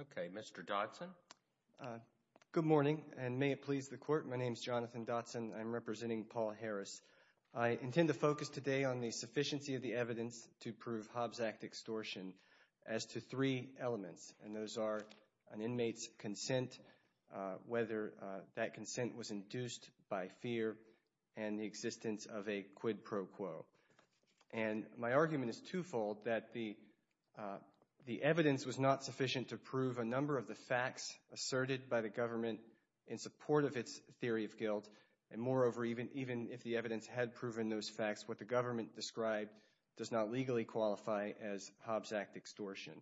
Okay, Mr. Dodson. Good morning, and may it please the Court. My name is Jonathan Dodson. I'm representing Paul Harris. I intend to focus today on the sufficiency of the evidence to prove Hobbs Act extortion as to three elements, and those are an inmate's consent, whether that consent was induced by fear and the existence of a quid pro quo. And my argument is twofold, that the evidence was not sufficient to prove a number of the facts asserted by the government in support of its theory of guilt, and moreover, even if the evidence had proven those facts, what the government described does not legally qualify as Hobbs Act extortion.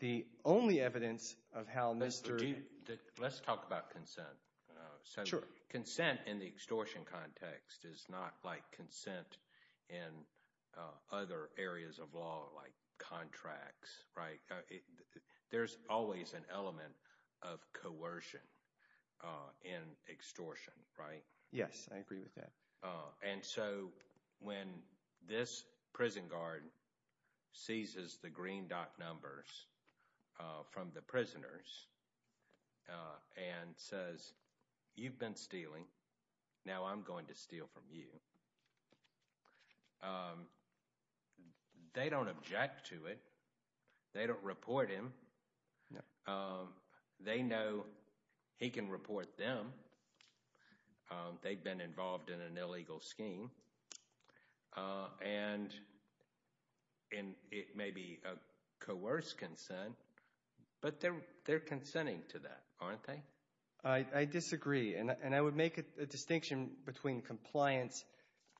The only evidence of how Mr. Dodson... Robert Dodson Let's talk about consent. Jonathan Dodson Sure. Robert Dodson Consent in the extortion context is not like consent in other areas of law, like contracts, right? There's always an element of coercion in extortion, right? Jonathan Dodson Yes, I agree with that. Robert Dodson And so when this prison guard seizes the green dot numbers from the prisoners and says, you've been stealing, now I'm going to steal from you, they don't object to it. They don't report him. They know he can report them. They've been involved in an illegal scheme, and it may be a coerced consent, but they're consenting to that, aren't they? Jonathan Dodson I disagree, and I would make a distinction between compliance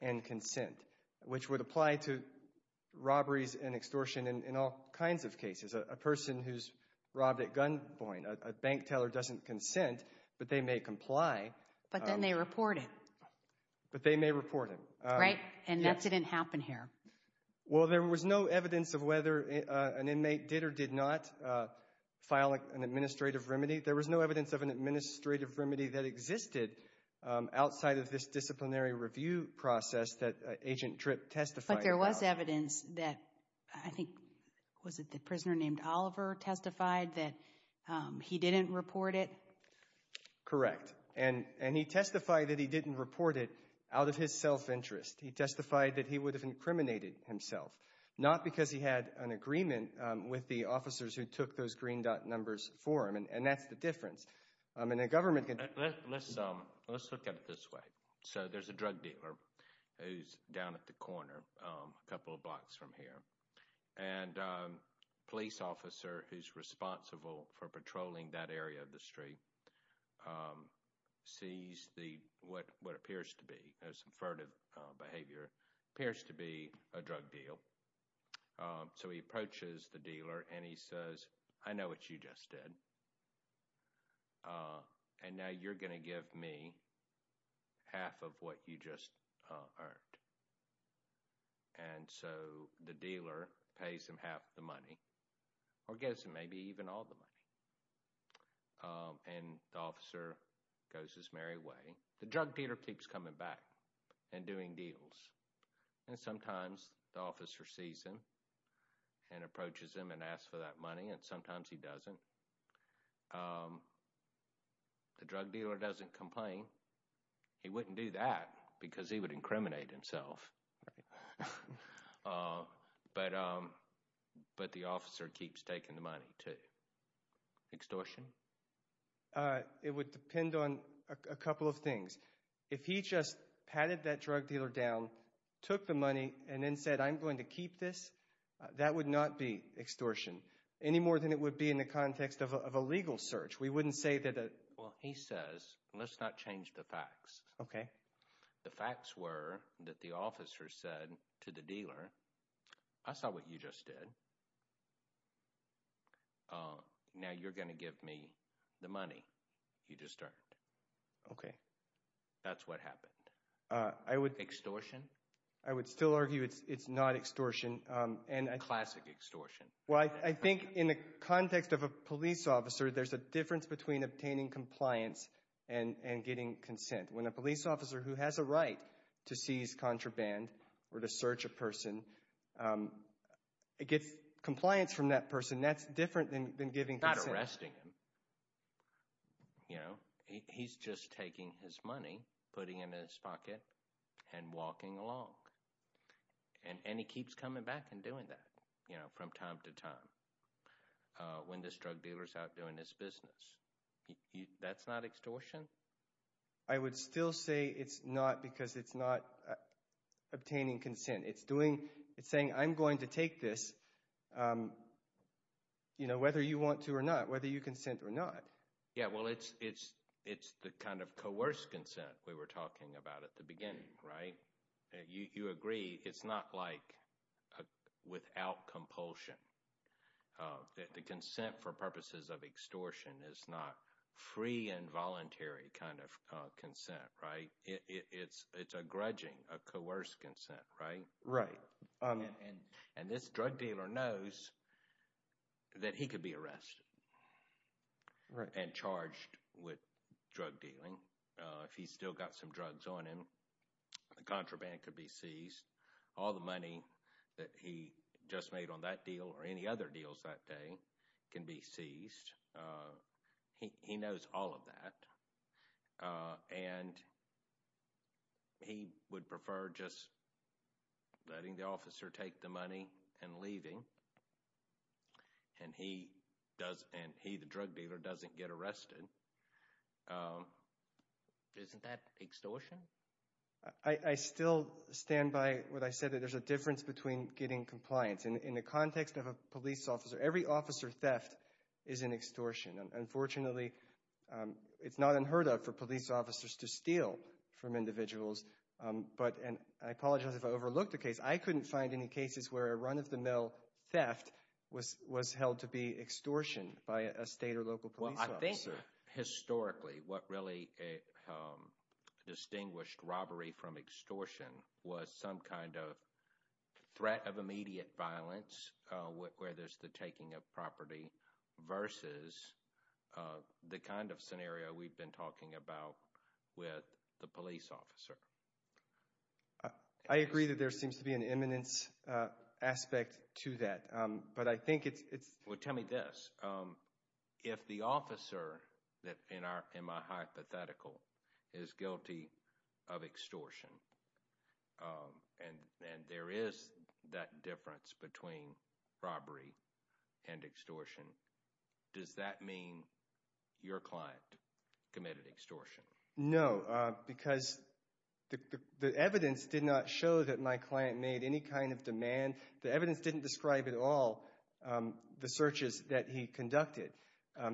and consent, which would apply to robberies and extortion in all kinds of cases. A person who's robbed at gunpoint, a bank teller doesn't consent, but they may comply. But then they report him. Jonathan Dodson But they may report him. Right, and that didn't happen here. Jonathan Dodson Well, there was no evidence of whether an inmate did or did not file an administrative remedy. There was no evidence of an administrative remedy that existed outside of this disciplinary review process that Agent Tripp testified about. But there was evidence that, I think, was it the prisoner named Oliver testified that he didn't report it? Correct, and he testified that he didn't report it out of his self-interest. He testified that he would have incriminated himself, not because he had an agreement with the officers who took those green dot numbers for him, and that's the difference. Let's look at it this way. So there's a drug dealer who's down at the corner a couple of blocks from here, and a police officer who's responsible for patrolling that area of the street sees what appears to be, some furtive behavior, appears to be a drug deal. So he approaches the dealer and he says, I know what you just did, and now you're going to give me half of what you just earned. And so the dealer pays him half the money or gives him maybe even all the money, and the officer goes his merry way. The drug dealer keeps coming back and doing deals, and sometimes the officer sees him and approaches him and asks for that money, and sometimes he doesn't. The drug dealer doesn't complain. He wouldn't do that because he would incriminate himself. But the officer keeps taking the money too. Extortion? It would depend on a couple of things. If he just patted that drug dealer down, took the money, and then said, I'm going to keep this, that would not be extortion, any more than it would be in the context of a legal search. We wouldn't say that a— Well, he says, let's not change the facts. Okay. The facts were that the officer said to the dealer, I saw what you just did. Now you're going to give me the money you just earned. Okay. That's what happened. Extortion? I would still argue it's not extortion. Classic extortion. Well, I think in the context of a police officer, there's a difference between obtaining compliance and getting consent. When a police officer who has a right to seize contraband or to search a person gets compliance from that person, that's different than giving consent. It's not arresting him. He's just taking his money, putting it in his pocket, and walking along. And he keeps coming back and doing that from time to time when this drug dealer is out doing his business. That's not extortion? I would still say it's not because it's not obtaining consent. It's saying, I'm going to take this whether you want to or not, whether you consent or not. Yeah, well, it's the kind of coerced consent we were talking about at the beginning, right? You agree it's not like without compulsion. The consent for purposes of extortion is not free and voluntary kind of consent, right? It's a grudging, a coerced consent, right? Right. And this drug dealer knows that he could be arrested and charged with drug dealing. If he's still got some drugs on him, the contraband could be seized. All the money that he just made on that deal or any other deals that day can be seized. He knows all of that. And he would prefer just letting the officer take the money and leaving. And he, the drug dealer, doesn't get arrested. Isn't that extortion? I still stand by what I said, that there's a difference between getting compliance. In the context of a police officer, every officer theft is an extortion. Unfortunately, it's not unheard of for police officers to steal from individuals. And I apologize if I overlooked a case. I couldn't find any cases where a run-of-the-mill theft was held to be extortion by a state or local police officer. Historically, what really distinguished robbery from extortion was some kind of threat of immediate violence where there's the taking of property versus the kind of scenario we've been talking about with the police officer. I agree that there seems to be an imminence aspect to that. Well, tell me this. If the officer in my hypothetical is guilty of extortion and there is that difference between robbery and extortion, does that mean your client committed extortion? No, because the evidence did not show that my client made any kind of demand. The evidence didn't describe at all the searches that he conducted. I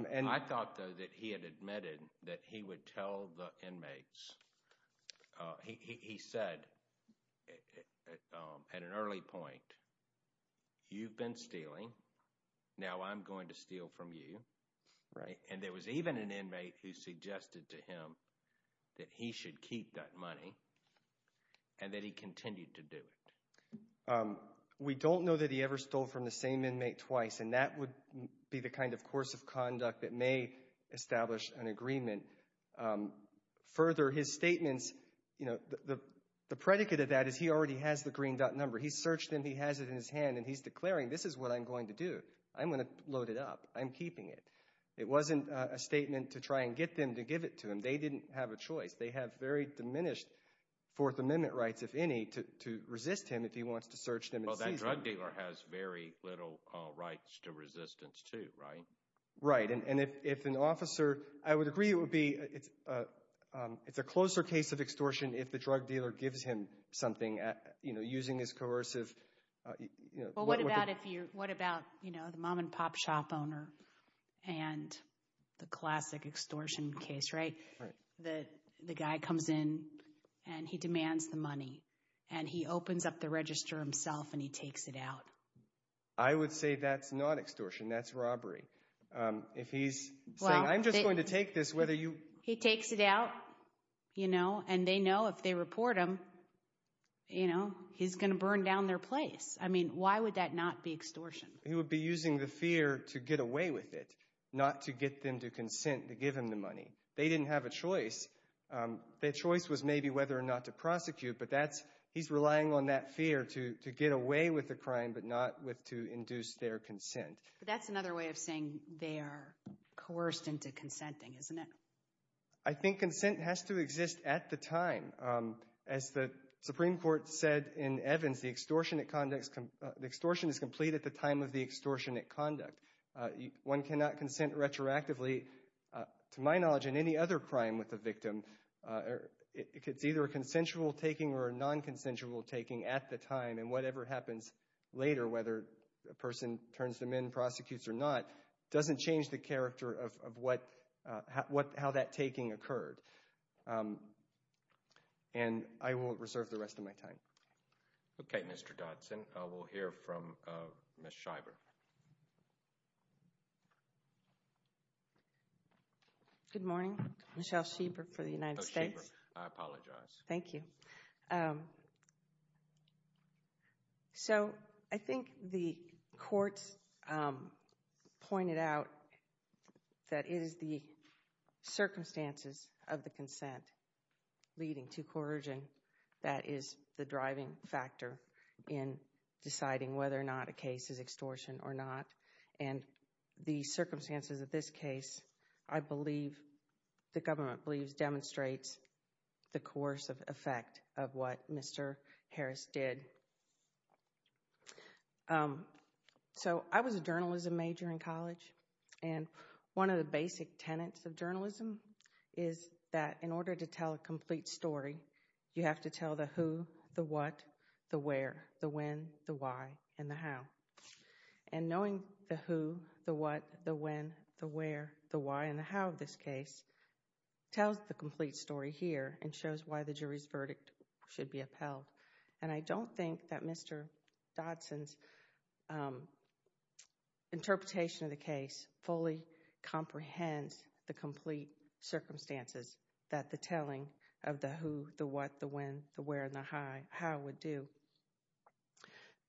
thought, though, that he had admitted that he would tell the inmates. He said at an early point, you've been stealing, now I'm going to steal from you. And there was even an inmate who suggested to him that he should keep that money and that he continued to do it. We don't know that he ever stole from the same inmate twice, and that would be the kind of course of conduct that may establish an agreement. Further, his statements, the predicate of that is he already has the green dot number. He searched them. He has it in his hand, and he's declaring, this is what I'm going to do. I'm going to load it up. I'm keeping it. It wasn't a statement to try and get them to give it to him. They didn't have a choice. They have very diminished Fourth Amendment rights, if any, to resist him if he wants to search them and seize them. Well, that drug dealer has very little rights to resistance too, right? Right, and if an officer – I would agree it would be – it's a closer case of extortion if the drug dealer gives him something using his coercive – the guy comes in and he demands the money, and he opens up the register himself and he takes it out. I would say that's not extortion. That's robbery. If he's saying, I'm just going to take this, whether you – He takes it out, you know, and they know if they report him, you know, he's going to burn down their place. I mean, why would that not be extortion? He would be using the fear to get away with it, not to get them to consent to give him the money. They didn't have a choice. Their choice was maybe whether or not to prosecute, but he's relying on that fear to get away with the crime but not to induce their consent. But that's another way of saying they are coerced into consenting, isn't it? I think consent has to exist at the time. As the Supreme Court said in Evans, the extortion is complete at the time of the extortionate conduct. One cannot consent retroactively. To my knowledge, in any other crime with a victim, it's either a consensual taking or a non-consensual taking at the time, and whatever happens later, whether a person turns them in, prosecutes or not, doesn't change the character of how that taking occurred. And I will reserve the rest of my time. Okay, Mr. Dodson. We'll hear from Ms. Schieber. Good morning. Michelle Schieber for the United States. I apologize. Thank you. So I think the courts pointed out that it is the circumstances of the consent leading to coercion that is the driving factor in deciding whether or not a case is extortion or not. And the circumstances of this case, I believe, the government believes demonstrates the coercive effect of what Mr. Harris did. So I was a journalism major in college, and one of the basic tenets of journalism is that in order to tell a complete story, you have to tell the who, the what, the where, the when, the why, and the how. And knowing the who, the what, the when, the where, the why, and the how of this case tells the complete story here and shows why the jury's verdict should be upheld. And I don't think that Mr. Dodson's interpretation of the case fully comprehends the complete circumstances that the telling of the who, the what, the when, the where, and the how would do.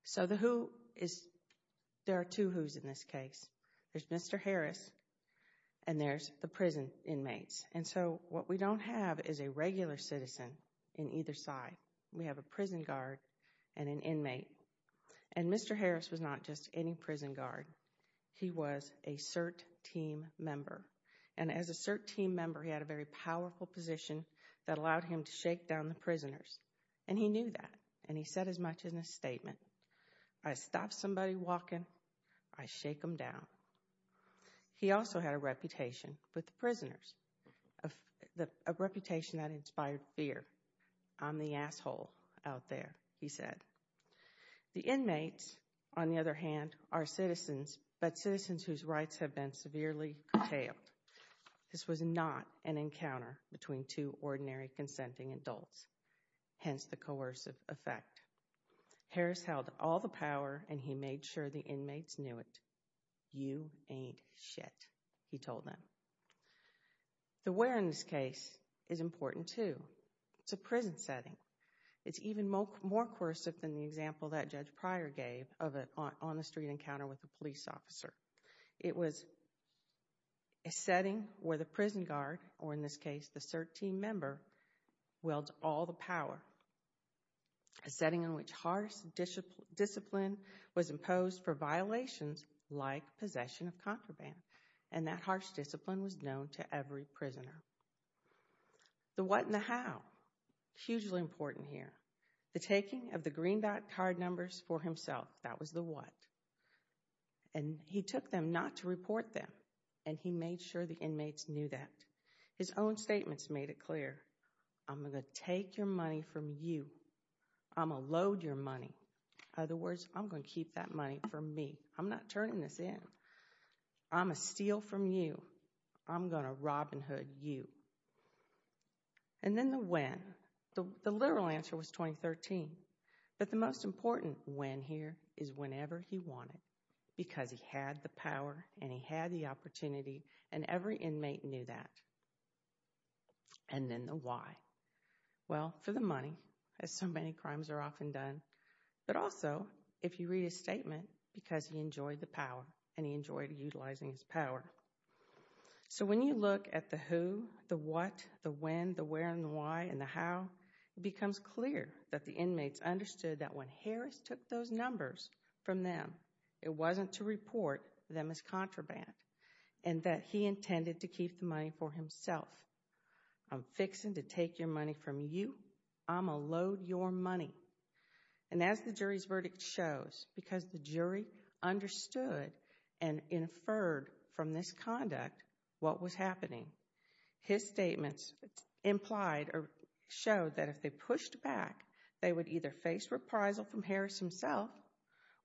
So the who is, there are two who's in this case. There's Mr. Harris, and there's the prison inmates. And so what we don't have is a regular citizen in either side. We have a prison guard and an inmate. And Mr. Harris was not just any prison guard. He was a CERT team member. And as a CERT team member, he had a very powerful position that allowed him to shake down the prisoners. And he knew that, and he said as much in his statement, I stop somebody walking, I shake them down. He also had a reputation with the prisoners, a reputation that inspired fear. I'm the asshole out there, he said. The inmates, on the other hand, are citizens, but citizens whose rights have been severely curtailed. This was not an encounter between two ordinary consenting adults, hence the coercive effect. Harris held all the power, and he made sure the inmates knew it. You ain't shit, he told them. The where in this case is important, too. It's a prison setting. It's even more coercive than the example that Judge Pryor gave of an on-the-street encounter with a police officer. It was a setting where the prison guard, or in this case the CERT team member, wields all the power. A setting in which harsh discipline was imposed for violations like possession of contraband. And that harsh discipline was known to every prisoner. The what and the how, hugely important here. The taking of the green card numbers for himself, that was the what. And he took them not to report them, and he made sure the inmates knew that. His own statements made it clear. I'm going to take your money from you. I'm going to load your money. In other words, I'm going to keep that money for me. I'm not turning this in. I'm going to steal from you. I'm going to Robin Hood you. And then the when. The literal answer was 2013. But the most important when here is whenever he wanted. Because he had the power, and he had the opportunity, and every inmate knew that. And then the why. Well, for the money, as so many crimes are often done. But also, if you read his statement, because he enjoyed the power, and he enjoyed utilizing his power. So when you look at the who, the what, the when, the where, and the why, and the how, it becomes clear that the inmates understood that when Harris took those numbers from them, it wasn't to report them as contraband. And that he intended to keep the money for himself. I'm fixing to take your money from you. I'm going to load your money. And as the jury's verdict shows, because the jury understood and inferred from this conduct what was happening, his statements implied or showed that if they pushed back, they would either face reprisal from Harris himself,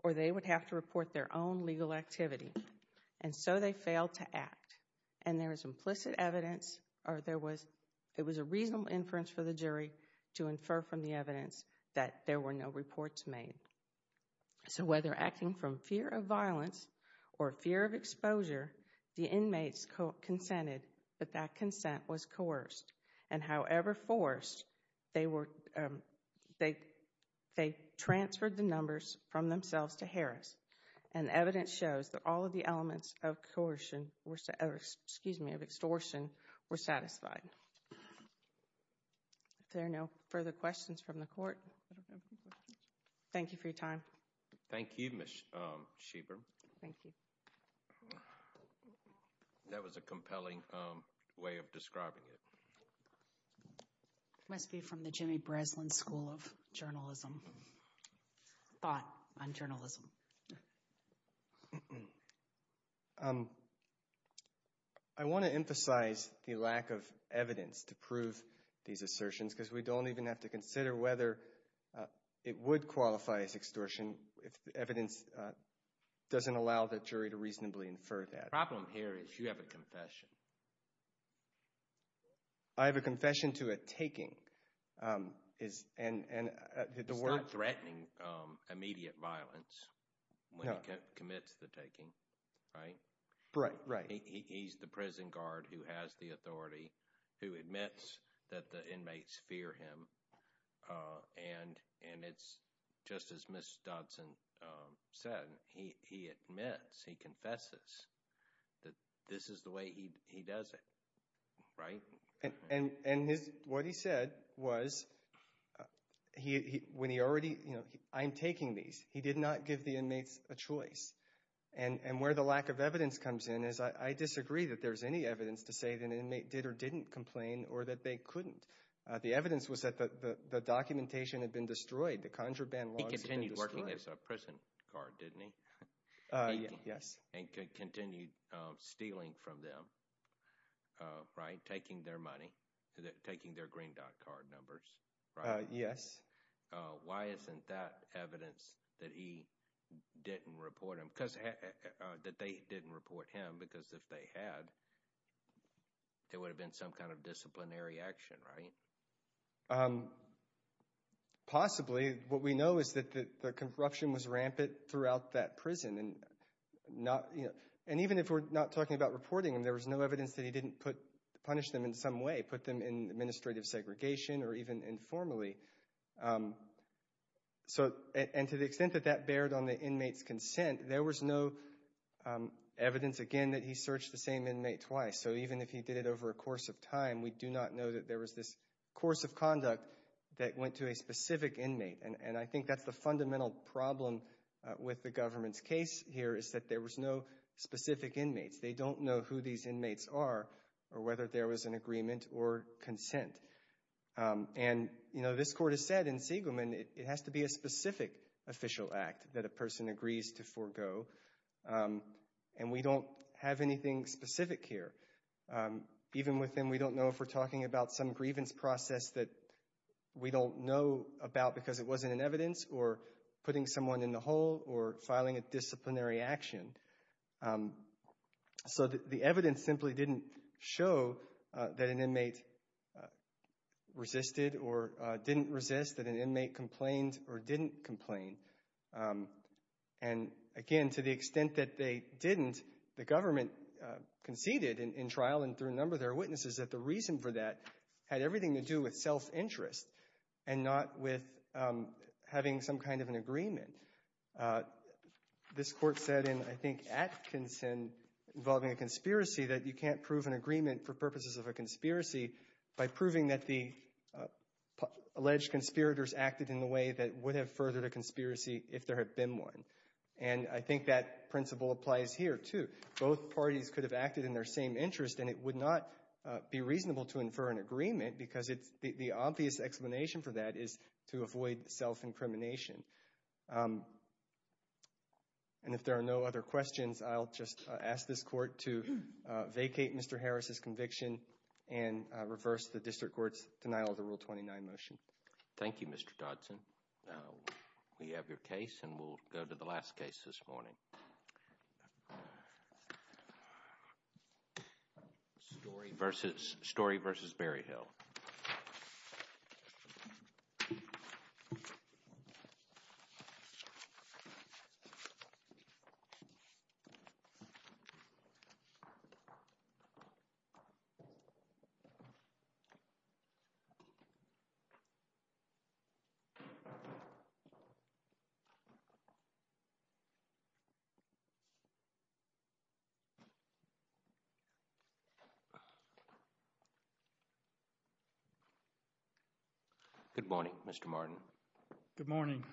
or they would have to report their own legal activity. And so they failed to act. And there is implicit evidence, or there was a reasonable inference for the jury to infer from the evidence that there were no reports made. So whether acting from fear of violence or fear of exposure, the inmates consented, but that consent was coerced. And however forced, they transferred the numbers from themselves to Harris. And evidence shows that all of the elements of extortion were satisfied. If there are no further questions from the court. Thank you for your time. Thank you, Ms. Schieber. Thank you. That was a compelling way of describing it. It must be from the Jimmy Breslin School of Journalism. Thought on journalism. I want to emphasize the lack of evidence to prove these assertions because we don't even have to consider whether it would qualify as extortion if the evidence doesn't allow the jury to reasonably infer that. The problem here is you have a confession. I have a confession to a taking. It's not threatening immediate violence when he commits the taking, right? Right. He's the prison guard who has the authority, who admits that the inmates fear him. And it's just as Ms. Dodson said. He admits, he confesses that this is the way he does it, right? And what he said was when he already, you know, I'm taking these. He did not give the inmates a choice. And where the lack of evidence comes in is I disagree that there's any evidence to say that an inmate did or didn't complain or that they couldn't. The evidence was that the documentation had been destroyed, the conjure ban laws had been destroyed. He continued working as a prison guard, didn't he? Yes. And continued stealing from them, right, taking their money, taking their green dot card numbers, right? Yes. Why isn't that evidence that he didn't report him, that they didn't report him because if they had, there would have been some kind of disciplinary action, right? Possibly. What we know is that the corruption was rampant throughout that prison. And even if we're not talking about reporting him, there was no evidence that he didn't punish them in some way, put them in administrative segregation or even informally. And to the extent that that bared on the inmate's consent, there was no evidence, again, that he searched the same inmate twice. So even if he did it over a course of time, we do not know that there was this course of conduct that went to a specific inmate. And I think that's the fundamental problem with the government's case here, is that there was no specific inmates. They don't know who these inmates are or whether there was an agreement or consent. And, you know, this court has said in Seigelman, it has to be a specific official act that a person agrees to forego. And we don't have anything specific here. Even with him, we don't know if we're talking about some grievance process that we don't know about because it wasn't in evidence or putting someone in the hole or filing a disciplinary action. So the evidence simply didn't show that an inmate resisted or didn't resist, that an inmate complained or didn't complain. And, again, to the extent that they didn't, the government conceded in trial and through a number of their witnesses that the reason for that had everything to do with self-interest and not with having some kind of an agreement. This court said in, I think, Atkinson, involving a conspiracy, that you can't prove an agreement for purposes of a conspiracy by proving that the alleged conspirators acted in a way that would have furthered a conspiracy if there had been one. And I think that principle applies here, too. Both parties could have acted in their same interest, and it would not be reasonable to infer an agreement because the obvious explanation for that is to avoid self-incrimination. And if there are no other questions, I'll just ask this court to vacate Mr. Harris' conviction and reverse the district court's denial of the Rule 29 motion. Thank you, Mr. Dodson. We have your case, and we'll go to the last case this morning. Story v. Berryhill. Good morning, Mr. Martin. Good morning.